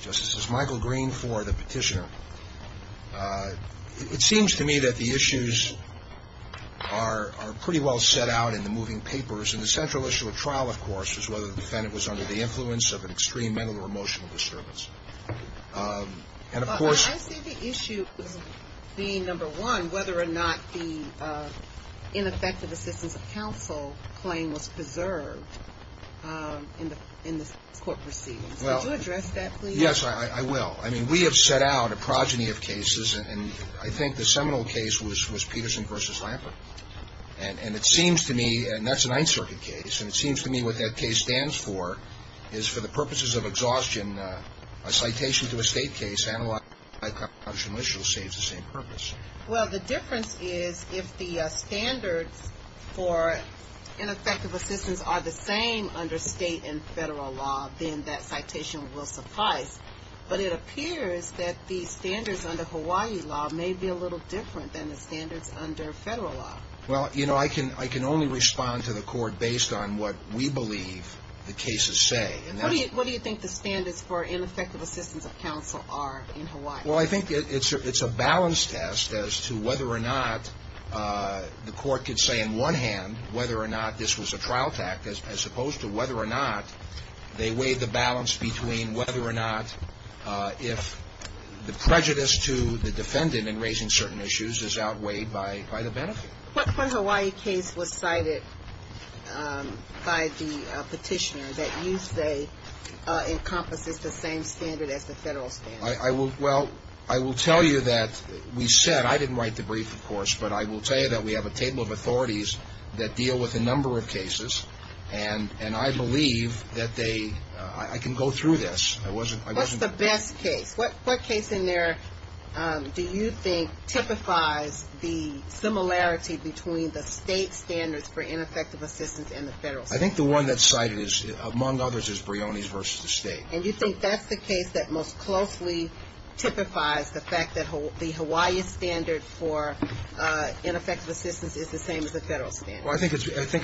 Justice, this is Michael Green for the Petitioner. It seems to me that the issues are pretty well set out in the moving papers, and the central issue of trial, of course, is whether the defendant was under the influence of an extreme mental or emotional disturbance. And of course I see the issue being, number one, whether or not the ineffective assistance of counsel claim was preserved in the court proceedings. Could you address that, please? Yes, I will. I mean, we have set out a progeny of cases, and I think the seminal case was Peterson v. Lampert. And it seems to me, and that's a Ninth Circuit case, and it seems to me what that case stands for is for the purposes of exhaustion, a citation to a state case analyzed by a congressional official saves the same purpose. Well, the difference is if the standards for ineffective assistance are the same under state and federal law, then that citation will suffice. But it appears that the standards under Hawaii law may be a little different than the standards under federal law. Well, you know, I can only respond to the court based on what we believe the cases say. What do you think the standards for ineffective assistance of counsel are in Hawaii? Well, I think it's a balance test as to whether or not the court could say in one hand whether or not this was a trial tactic as opposed to whether or not they weighed the balance between whether or not if the prejudice to the defendant in raising certain issues is outweighed by the benefit. What Hawaii case was cited by the petitioner that you say encompasses the same standard as the federal standard? Well, I will tell you that we said, I didn't write the brief, of course, but I will tell you that we have a table of authorities that deal with a number of cases, and I believe that they, I can go through this. What's the best case? What case in there do you think typifies the similarity between the state standards for ineffective assistance and the federal standards? I think the one that's cited is, among others, is Brioni's versus the state. And you think that's the case that most closely typifies the fact that the Hawaii standard for ineffective assistance is the same as the federal standard? Well, I think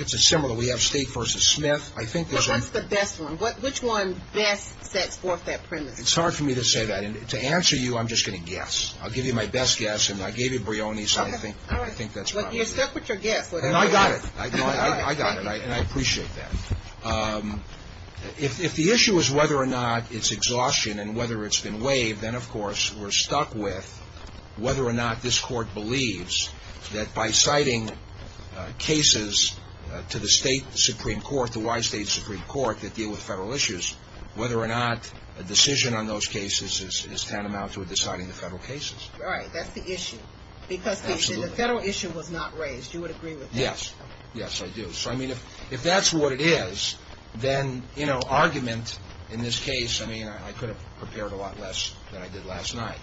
it's a similar. We have State versus Smith. What's the best one? Which one best sets forth that premise? It's hard for me to say that. And to answer you, I'm just going to guess. I'll give you my best guess, and I gave you Brioni's. All right. I think that's about right. Well, you're stuck with your guess. And I got it. I got it, and I appreciate that. If the issue is whether or not it's exhaustion and whether it's been waived, then, of course, we're stuck with whether or not this Court believes that by citing cases to the State Supreme Court, the Hawaii State Supreme Court, that deal with federal issues, whether or not a decision on those cases is tantamount to deciding the federal cases. Right. That's the issue. Absolutely. Because the federal issue was not raised. You would agree with that? Yes. Yes, I do. So, I mean, if that's what it is, then, you know, argument in this case, I mean, I could have prepared a lot less than I did last night.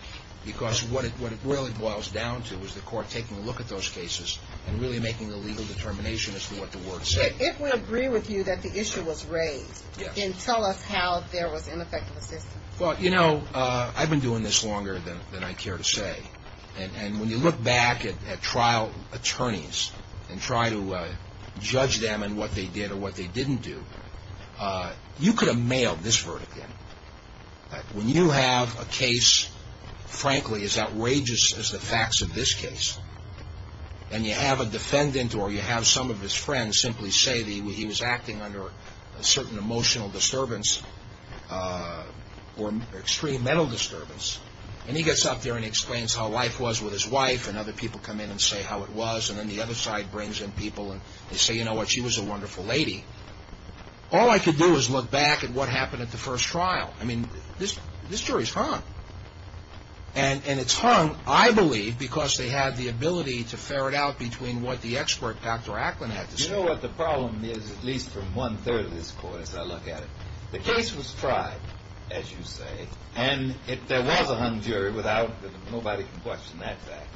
Because what it really boils down to is the Court taking a look at those cases and really making the legal determination as to what the words say. If we agree with you that the issue was raised, then tell us how there was ineffective assistance. Well, you know, I've been doing this longer than I care to say. And when you look back at trial attorneys and try to judge them and what they did or what they didn't do, you could have mailed this verdict in. When you have a case, frankly, as outrageous as the facts of this case, and you have a defendant or you have some of his friends simply say that he was acting under a certain emotional disturbance or extreme mental disturbance, and he gets up there and explains how life was with his wife, and other people come in and say how it was, and then the other side brings in people and they say, you know what, she was a wonderful lady. All I could do is look back at what happened at the first trial. I mean, this jury's hung. And it's hung, I believe, because they had the ability to ferret out between what the expert, Dr. Acklin, had to say. You know what the problem is, at least from one-third of this Court, as I look at it? The case was tried, as you say, and there was a hung jury. Nobody can question that fact.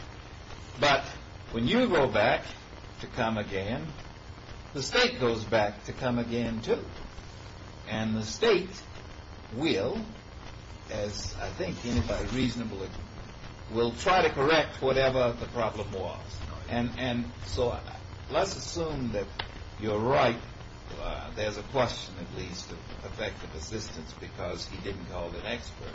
But when you go back to come again, the state goes back to come again, too. And the state will, as I think anybody reasonable will try to correct whatever the problem was. And so let's assume that you're right. There's a question, at least, of effective assistance because he didn't call an expert.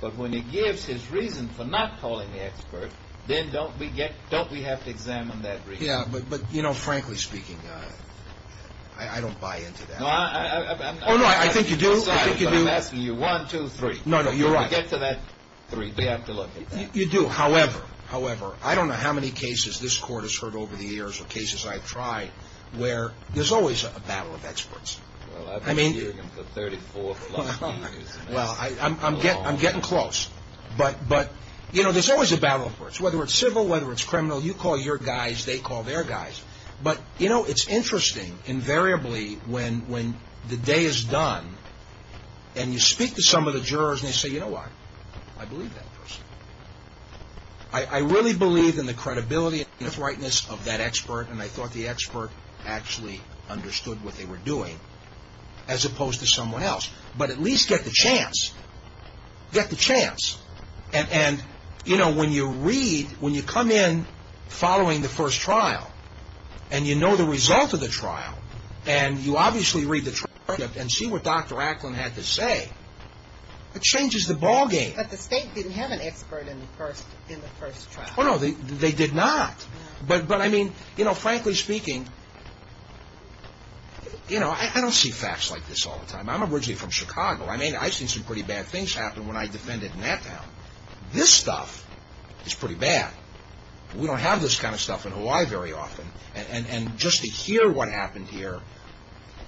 But when he gives his reason for not calling the expert, then don't we have to examine that reason? Yeah, but, you know, frankly speaking, I don't buy into that. Oh, no, I think you do. I'm asking you one, two, three. No, no, you're right. When we get to that three, we have to look at that. You do. However, I don't know how many cases this Court has heard over the years, or cases I've tried, where there's always a battle of experts. Well, I've been hearing them for 34-plus years. Well, I'm getting close. But, you know, there's always a battle of experts. Whether it's civil, whether it's criminal, you call your guys, they call their guys. But, you know, it's interesting, invariably, when the day is done and you speak to some of the jurors and they say, you know what? I believe that person. I really believe in the credibility and the rightness of that expert. And I thought the expert actually understood what they were doing, as opposed to someone else. But at least get the chance. Get the chance. And, you know, when you read, when you come in following the first trial, and you know the result of the trial, and you obviously read the trial and see what Dr. Acklin had to say, it changes the ballgame. But the state didn't have an expert in the first trial. Oh, no, they did not. But, I mean, you know, frankly speaking, you know, I don't see facts like this all the time. I'm originally from Chicago. I mean, I've seen some pretty bad things happen when I defended in that town. This stuff is pretty bad. We don't have this kind of stuff in Hawaii very often. And just to hear what happened here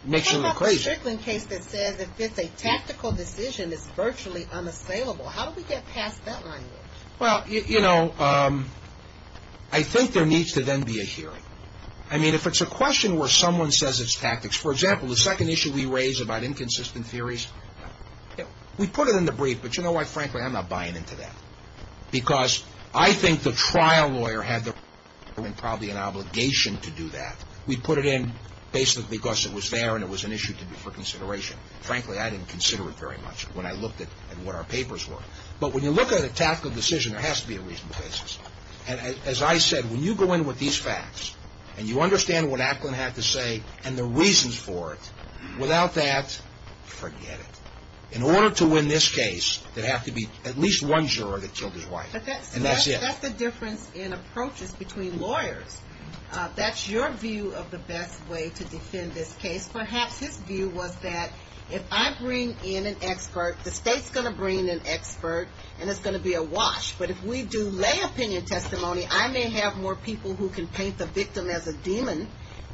makes you look crazy. There's a Strickland case that says if it's a tactical decision, it's virtually unassailable. How do we get past that line? Well, you know, I think there needs to then be a hearing. I mean, if it's a question where someone says it's tactics. For example, the second issue we raised about inconsistent theories, we put it in the brief. But you know what, frankly, I'm not buying into that. Because I think the trial lawyer had probably an obligation to do that. We put it in basically because it was there and it was an issue to be for consideration. Frankly, I didn't consider it very much when I looked at what our papers were. But when you look at a tactical decision, there has to be a reason for this. And as I said, when you go in with these facts and you understand what Aplin had to say and the reasons for it, without that, forget it. In order to win this case, there'd have to be at least one juror that killed his wife. And that's it. That's the difference in approaches between lawyers. That's your view of the best way to defend this case. Perhaps his view was that if I bring in an expert, the state's going to bring in an expert and it's going to be a wash. But if we do lay opinion testimony, I may have more people who can paint the victim as a demon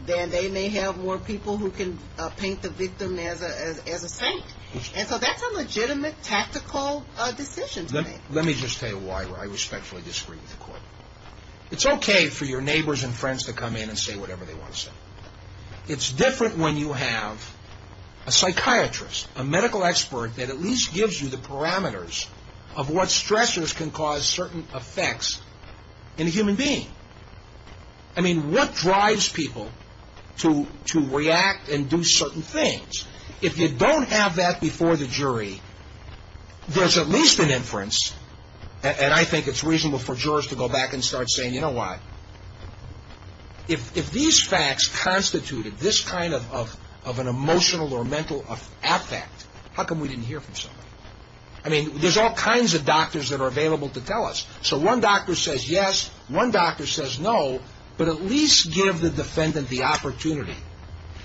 than they may have more people who can paint the victim as a saint. And so that's a legitimate tactical decision to make. Let me just tell you why I respectfully disagree with the court. It's okay for your neighbors and friends to come in and say whatever they want to say. It's different when you have a psychiatrist, a medical expert that at least gives you the parameters of what stressors can cause certain effects in a human being. I mean, what drives people to react and do certain things? If you don't have that before the jury, there's at least an inference, and I think it's reasonable for jurors to go back and start saying, you know what? If these facts constituted this kind of an emotional or mental affect, how come we didn't hear from somebody? I mean, there's all kinds of doctors that are available to tell us. So one doctor says yes, one doctor says no, but at least give the defendant the opportunity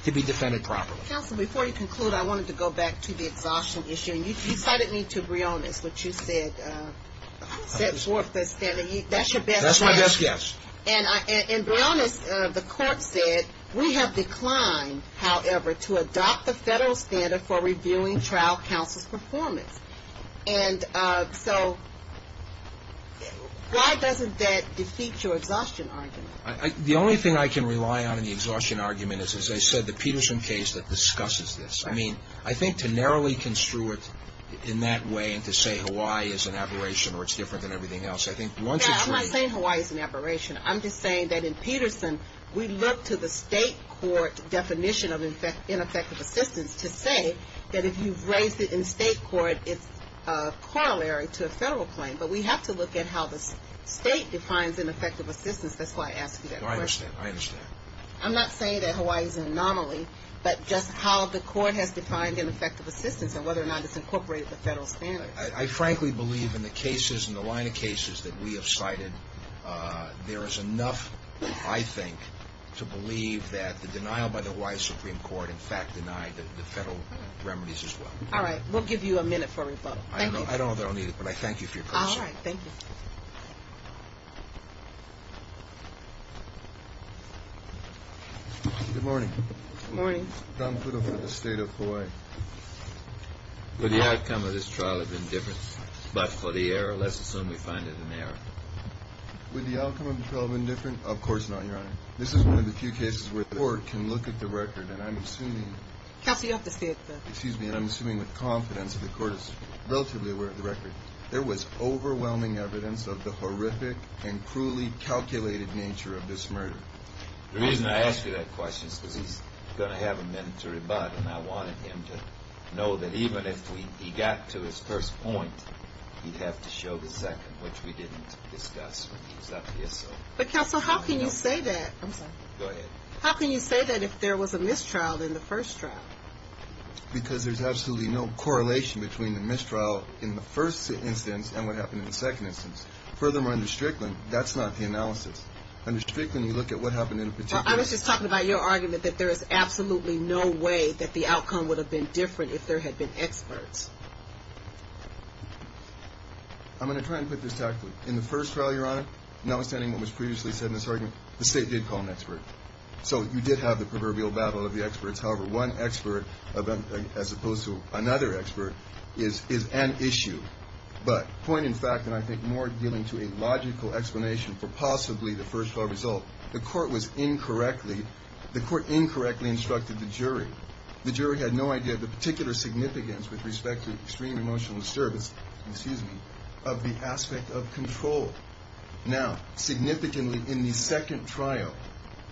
to be defended properly. Counsel, before you conclude, I wanted to go back to the exhaustion issue. I mean, you cited me to Brionis, which you said is worth the standard. That's your best guess. That's my best guess. And Brionis, the court said, we have declined, however, to adopt the federal standard for reviewing trial counsel's performance. And so why doesn't that defeat your exhaustion argument? The only thing I can rely on in the exhaustion argument is, as I said, the Peterson case that discusses this. I mean, I think to narrowly construe it in that way and to say Hawaii is an aberration or it's different than everything else, I think once it's I'm not saying Hawaii is an aberration. I'm just saying that in Peterson, we look to the state court definition of ineffective assistance to say that if you raise it in state court, it's corollary to a federal claim, but we have to look at how the state defines ineffective assistance. That's why I asked you that question. I understand. I understand. I'm not saying that Hawaii is an anomaly, but just how the court has defined ineffective assistance and whether or not it's incorporated the federal standard. I frankly believe in the cases and the line of cases that we have cited, there is enough, I think, to believe that the denial by the Hawaii Supreme Court in fact denied the federal remedies as well. All right. We'll give you a minute for rebuttal. Thank you. I don't know that I'll need it, but I thank you for your question. All right. Thank you. Good morning. Good morning. Tom Pudo for the state of Hawaii. Would the outcome of this trial have been different? But for the error, let's assume we find it an error. Would the outcome of the trial have been different? Of course not, Your Honor. This is one of the few cases where the court can look at the record, and I'm assuming— Counsel, you have to stay at the— Excuse me, and I'm assuming with confidence that the court is relatively aware of the record. There was overwhelming evidence of the horrific and cruelly calculated nature of this murder. The reason I ask you that question is because he's going to have a minute to rebut, and I wanted him to know that even if he got to his first point, he'd have to show the second, which we didn't discuss when he was up here, so— But, Counsel, how can you say that? I'm sorry. Go ahead. How can you say that if there was a mistrial in the first trial? Because there's absolutely no correlation between the mistrial in the first instance and what happened in the second instance. Furthermore, under Strickland, that's not the analysis. Under Strickland, you look at what happened in a particular— I was just talking about your argument that there is absolutely no way that the outcome would have been different if there had been experts. I'm going to try and put this tactfully. In the first trial, Your Honor, notwithstanding what was previously said in this argument, the State did call an expert. So you did have the proverbial battle of the experts. However, one expert, as opposed to another expert, is an issue. But point in fact, and I think more dealing to a logical explanation for possibly the first trial result, the Court was incorrectly—the Court incorrectly instructed the jury. The jury had no idea of the particular significance with respect to extreme emotional disturbance— excuse me—of the aspect of control. Now, significantly, in the second trial,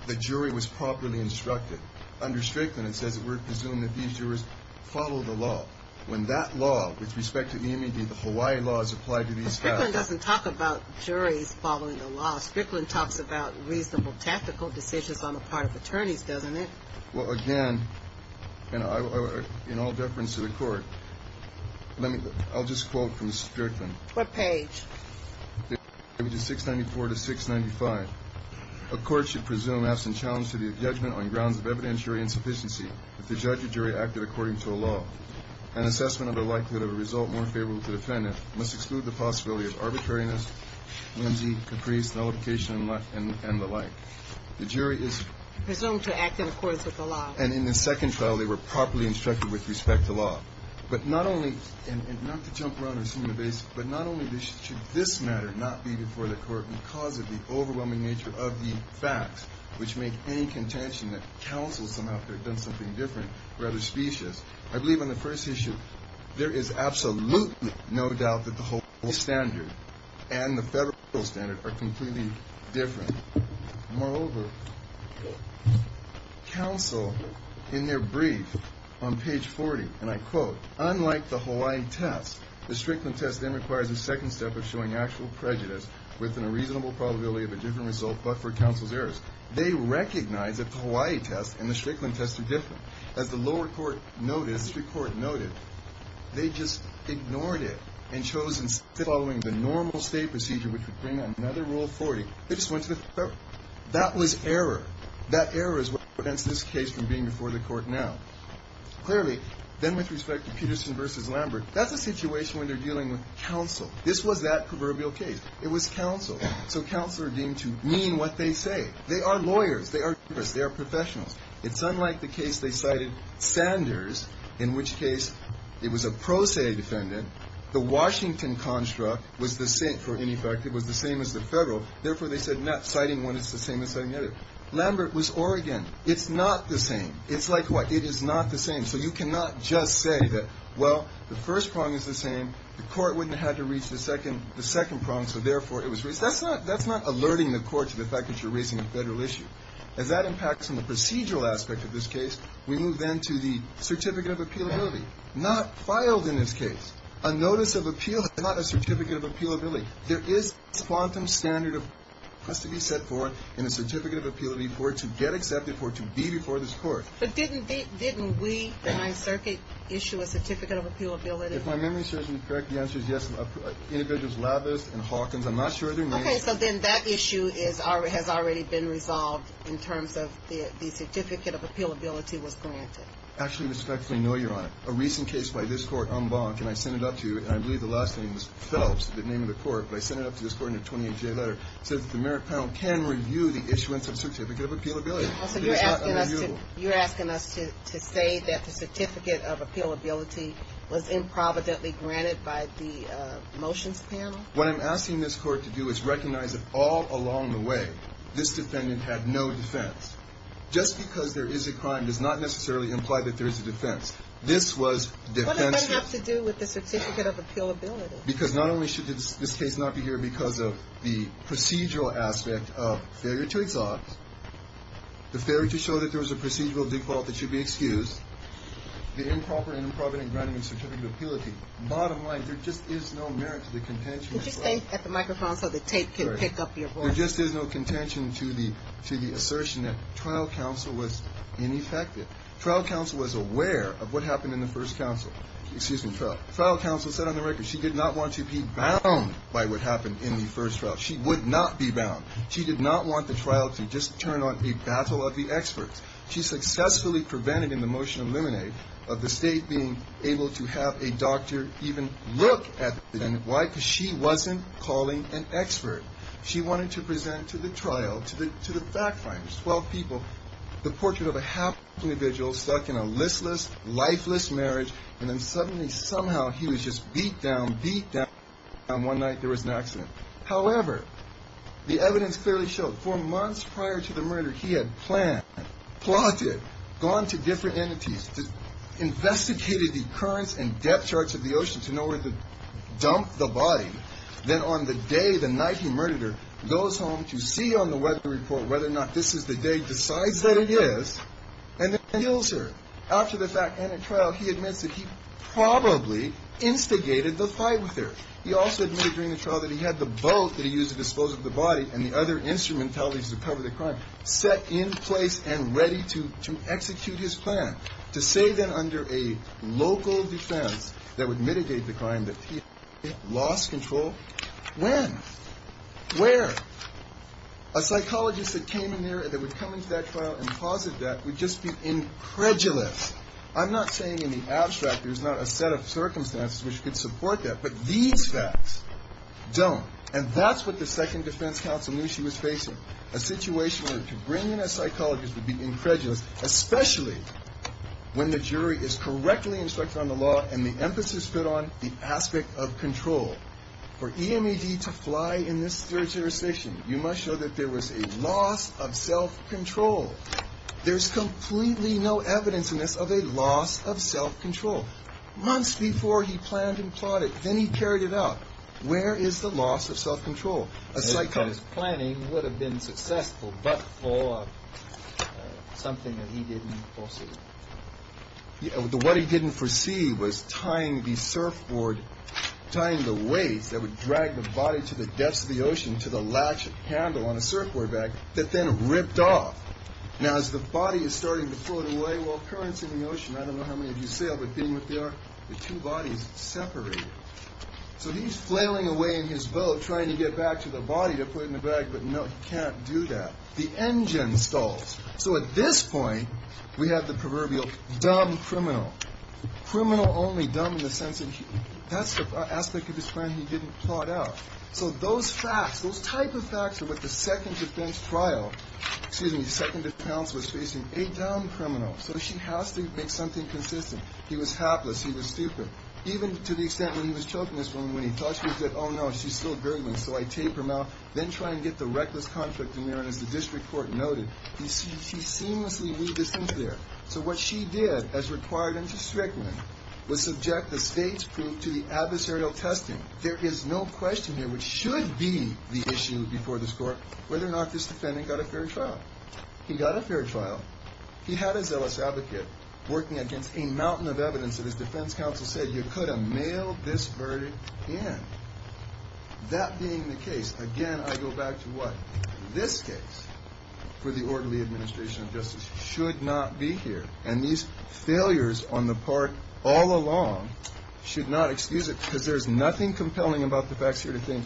the jury was properly instructed. Under Strickland, it says that we're to presume that these jurors follow the law. When that law, with respect to the Hawaii law, is applied to these facts— Strickland doesn't talk about juries following the law. Strickland talks about reasonable tactical decisions on the part of attorneys, doesn't it? Well, again, in all deference to the Court, I'll just quote from Strickland. What page? Pages 694 to 695. A court should presume, absent challenge to the judgment on grounds of evidentiary insufficiency, that the judge or jury acted according to a law. An assessment of the likelihood of a result more favorable to the defendant must exclude the possibility of arbitrariness, whimsy, caprice, nullification, and the like. The jury is— Presumed to act in accordance with the law. And in the second trial, they were properly instructed with respect to law. But not only—and not to jump around and assume the basics, but not only should this matter not be before the Court because of the overwhelming nature of the facts which make any contention that counsel somehow could have done something different rather specious. I believe on the first issue, there is absolutely no doubt that the whole standard and the federal standard are completely different. Moreover, counsel, in their brief on page 40, and I quote, Unlike the Hawaii test, the Strickland test then requires a second step of showing actual prejudice within a reasonable probability of a different result, but for counsel's errors. They recognize that the Hawaii test and the Strickland test are different. As the lower court noted, they just ignored it and chose instead of following the normal state procedure which would bring another Rule 40, they just went to the federal. That was error. That error is what prevents this case from being before the Court now. Clearly, then with respect to Peterson v. Lambert, that's a situation where they're dealing with counsel. This was that proverbial case. It was counsel. So counsel are deemed to mean what they say. They are lawyers. They are jurists. They are professionals. It's unlike the case they cited Sanders, in which case it was a pro se defendant. The Washington construct was the same for any fact. It was the same as the federal. Therefore, they said not citing one is the same as citing the other. Lambert was Oregon. It's not the same. It's like what? It is not the same. So you cannot just say that, well, the first prong is the same. The Court wouldn't have had to reach the second prong, so therefore, it was raised. That's not alerting the Court to the fact that you're raising a federal issue. As that impacts on the procedural aspect of this case, we move then to the certificate of appealability. Not filed in this case. A notice of appeal is not a certificate of appealability. There is a quantum standard that has to be set forth in a certificate of appealability for it to get accepted, for it to be before this Court. But didn't we in my circuit issue a certificate of appealability? If my memory serves me correct, the answer is yes. Individuals Lavis and Hawkins, I'm not sure their names. Okay. So then that issue has already been resolved in terms of the certificate of appealability was granted. Actually, respectfully, no, Your Honor. A recent case by this Court, Umbach, and I sent it up to you, and I believe the last name was Phelps, the name of the Court. But I sent it up to this Court in a 28-J letter. It says that the merit panel can review the issuance of a certificate of appealability. It is not unreviewable. You're asking us to say that the certificate of appealability was improvidently granted by the motions panel? What I'm asking this Court to do is recognize that all along the way, this defendant had no defense. Just because there is a crime does not necessarily imply that there is a defense. This was defensive. What does that have to do with the certificate of appealability? Because not only should this case not be here because of the procedural aspect of failure to exhaust, the failure to show that there was a procedural default that should be excused, the improper and improvident granting of certificate of appealability. Bottom line, there just is no merit to the contention. Could you stay at the microphone so the tape can pick up your voice? There just is no contention to the assertion that trial counsel was ineffective. Trial counsel was aware of what happened in the first trial. Trial counsel said on the record she did not want to be bound by what happened in the first trial. She would not be bound. She did not want the trial to just turn on a battle of the experts. She successfully prevented in the motion of limine of the State being able to have a doctor even look at the defendant. Why? Because she wasn't calling an expert. She wanted to present to the trial, to the fact finders, 12 people, the portrait of a hapless individual stuck in a listless, lifeless marriage, and then suddenly, somehow, he was just beat down, beat down. And one night there was an accident. However, the evidence clearly showed four months prior to the murder, he had planned, plotted, gone to different entities, investigated the currents and depth charts of the ocean to know where to dump the body. Then on the day, the night he murdered her, goes home to see on the weather report whether or not this is the day, decides that it is, and then kills her. After the fact and at trial, he admits that he probably instigated the fight with her. He also admitted during the trial that he had the boat that he used to dispose of the body and the other instrumentalities to cover the crime set in place and ready to execute his plan. To say then under a local defense that would mitigate the crime that he lost control, when? Where? A psychologist that came in there that would come into that trial and posit that would just be incredulous. I'm not saying in the abstract there's not a set of circumstances which could support that. But these facts don't. And that's what the second defense counsel knew she was facing, a situation where to bring in a psychologist would be incredulous, especially when the jury is correctly instructed on the law and the emphasis is put on the aspect of control. For EMED to fly in this jurisdiction, you must show that there was a loss of self-control. There's completely no evidence in this of a loss of self-control. Months before he planned and plotted, then he carried it out. Where is the loss of self-control? A psychologist planning would have been successful but for something that he didn't foresee. What he didn't foresee was tying the surfboard, tying the weights that would drag the body to the depths of the ocean to the latch handle on a surfboard back that then ripped off. Now as the body is starting to float away, well currents in the ocean, I don't know how many of you sail but being what they are, the two bodies separate. So he's flailing away in his boat trying to get back to the body to put in the bag but no, he can't do that. The engine stalls. So at this point we have the proverbial dumb criminal. Criminal only dumb in the sense that that's the aspect of his plan he didn't plot out. So those facts, those type of facts are what the second defense trial, excuse me, second defense counsel is facing, a dumb criminal. So she has to make something consistent. He was hapless. He was stupid. Even to the extent when he was choking this woman, when he touched her, he said, oh no, she's still gurgling. So I tape her mouth, then try and get the reckless contract in there. And as the district court noted, he seamlessly weaved this into there. So what she did as required into Strickland was subject the state's proof to the adversarial testing. There is no question here, which should be the issue before this court, whether or not this defendant got a fair trial. He got a fair trial. He had a zealous advocate working against a mountain of evidence that his defense counsel said, you could have mailed this verdict in. That being the case, again, I go back to what? This case for the orderly administration of justice should not be here. And these failures on the part all along should not excuse it, because there's nothing compelling about the facts here to think.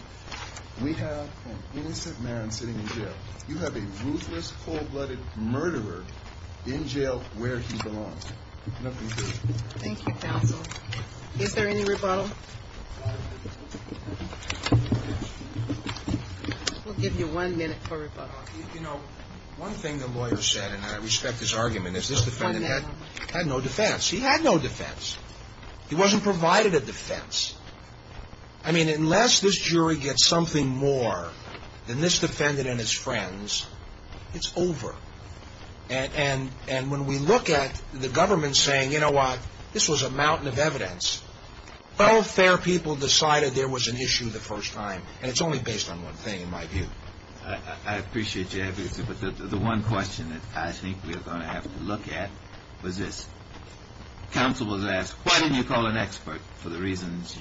We have an innocent man sitting in jail. You have a ruthless, cold-blooded murderer in jail where he belongs. Nothing good. Thank you, counsel. Is there any rebuttal? We'll give you one minute for rebuttal. You know, one thing the lawyer said, and I respect his argument, is this defendant had no defense. He had no defense. He wasn't provided a defense. I mean, unless this jury gets something more than this defendant and his friends, it's over. And when we look at the government saying, you know what, this was a mountain of evidence, well, fair people decided there was an issue the first time, and it's only based on one thing, in my view. I appreciate your advocacy, but the one question that I think we are going to have to look at was this. Counsel was asked, why didn't you call an expert? For the reasons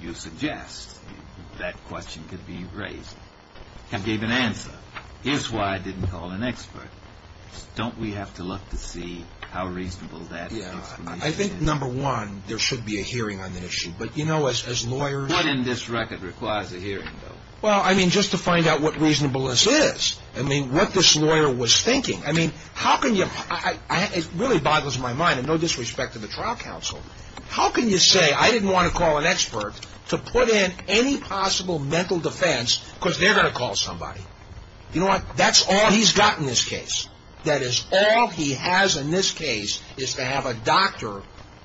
you suggest, that question could be raised. He gave an answer. Here's why I didn't call an expert. Don't we have to look to see how reasonable that is? I think, number one, there should be a hearing on that issue. But, you know, as lawyers... What in this record requires a hearing, though? Well, I mean, just to find out what reasonableness is. I mean, what this lawyer was thinking. I mean, how can you... it really boggles my mind, and no disrespect to the trial counsel. How can you say I didn't want to call an expert to put in any possible mental defense because they're going to call somebody? You know what, that's all he's got in this case. That is, all he has in this case is to have a doctor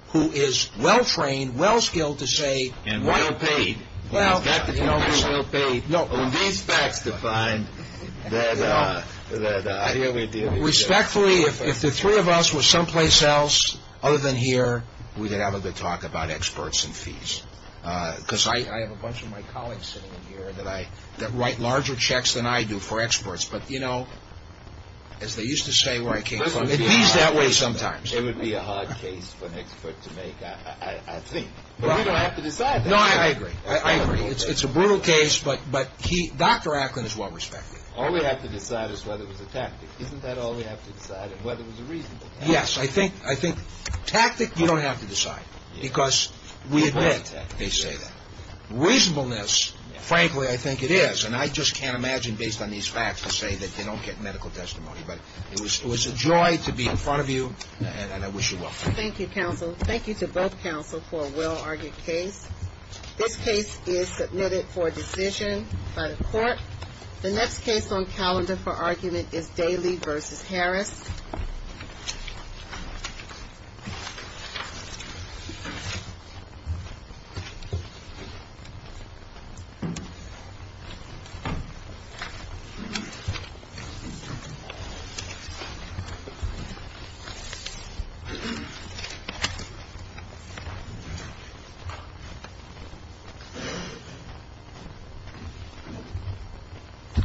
who is well-trained, well-skilled to say... And well-paid. Well... Respectfully, if the three of us were someplace else other than here, we could have a good talk about experts and fees. Because I have a bunch of my colleagues sitting in here that write larger checks than I do for experts. But, you know, as they used to say where I came from, it means that way sometimes. It would be a hard case for an expert to make, I think. But we don't have to decide that. No, I agree. I agree. It's a brutal case, but Dr. Acklin is well-respected. All we have to decide is whether it was a tactic. Isn't that all we have to decide is whether it was a reasonable tactic? Yes. I think tactic you don't have to decide because we admit they say that. Reasonableness, frankly, I think it is. And I just can't imagine based on these facts to say that they don't get medical testimony. But it was a joy to be in front of you, and I wish you well. Thank you, counsel. Thank you to both counsel for a well-argued case. This case is submitted for decision by the court. The next case on calendar for argument is Daly v. Harris. Thank you.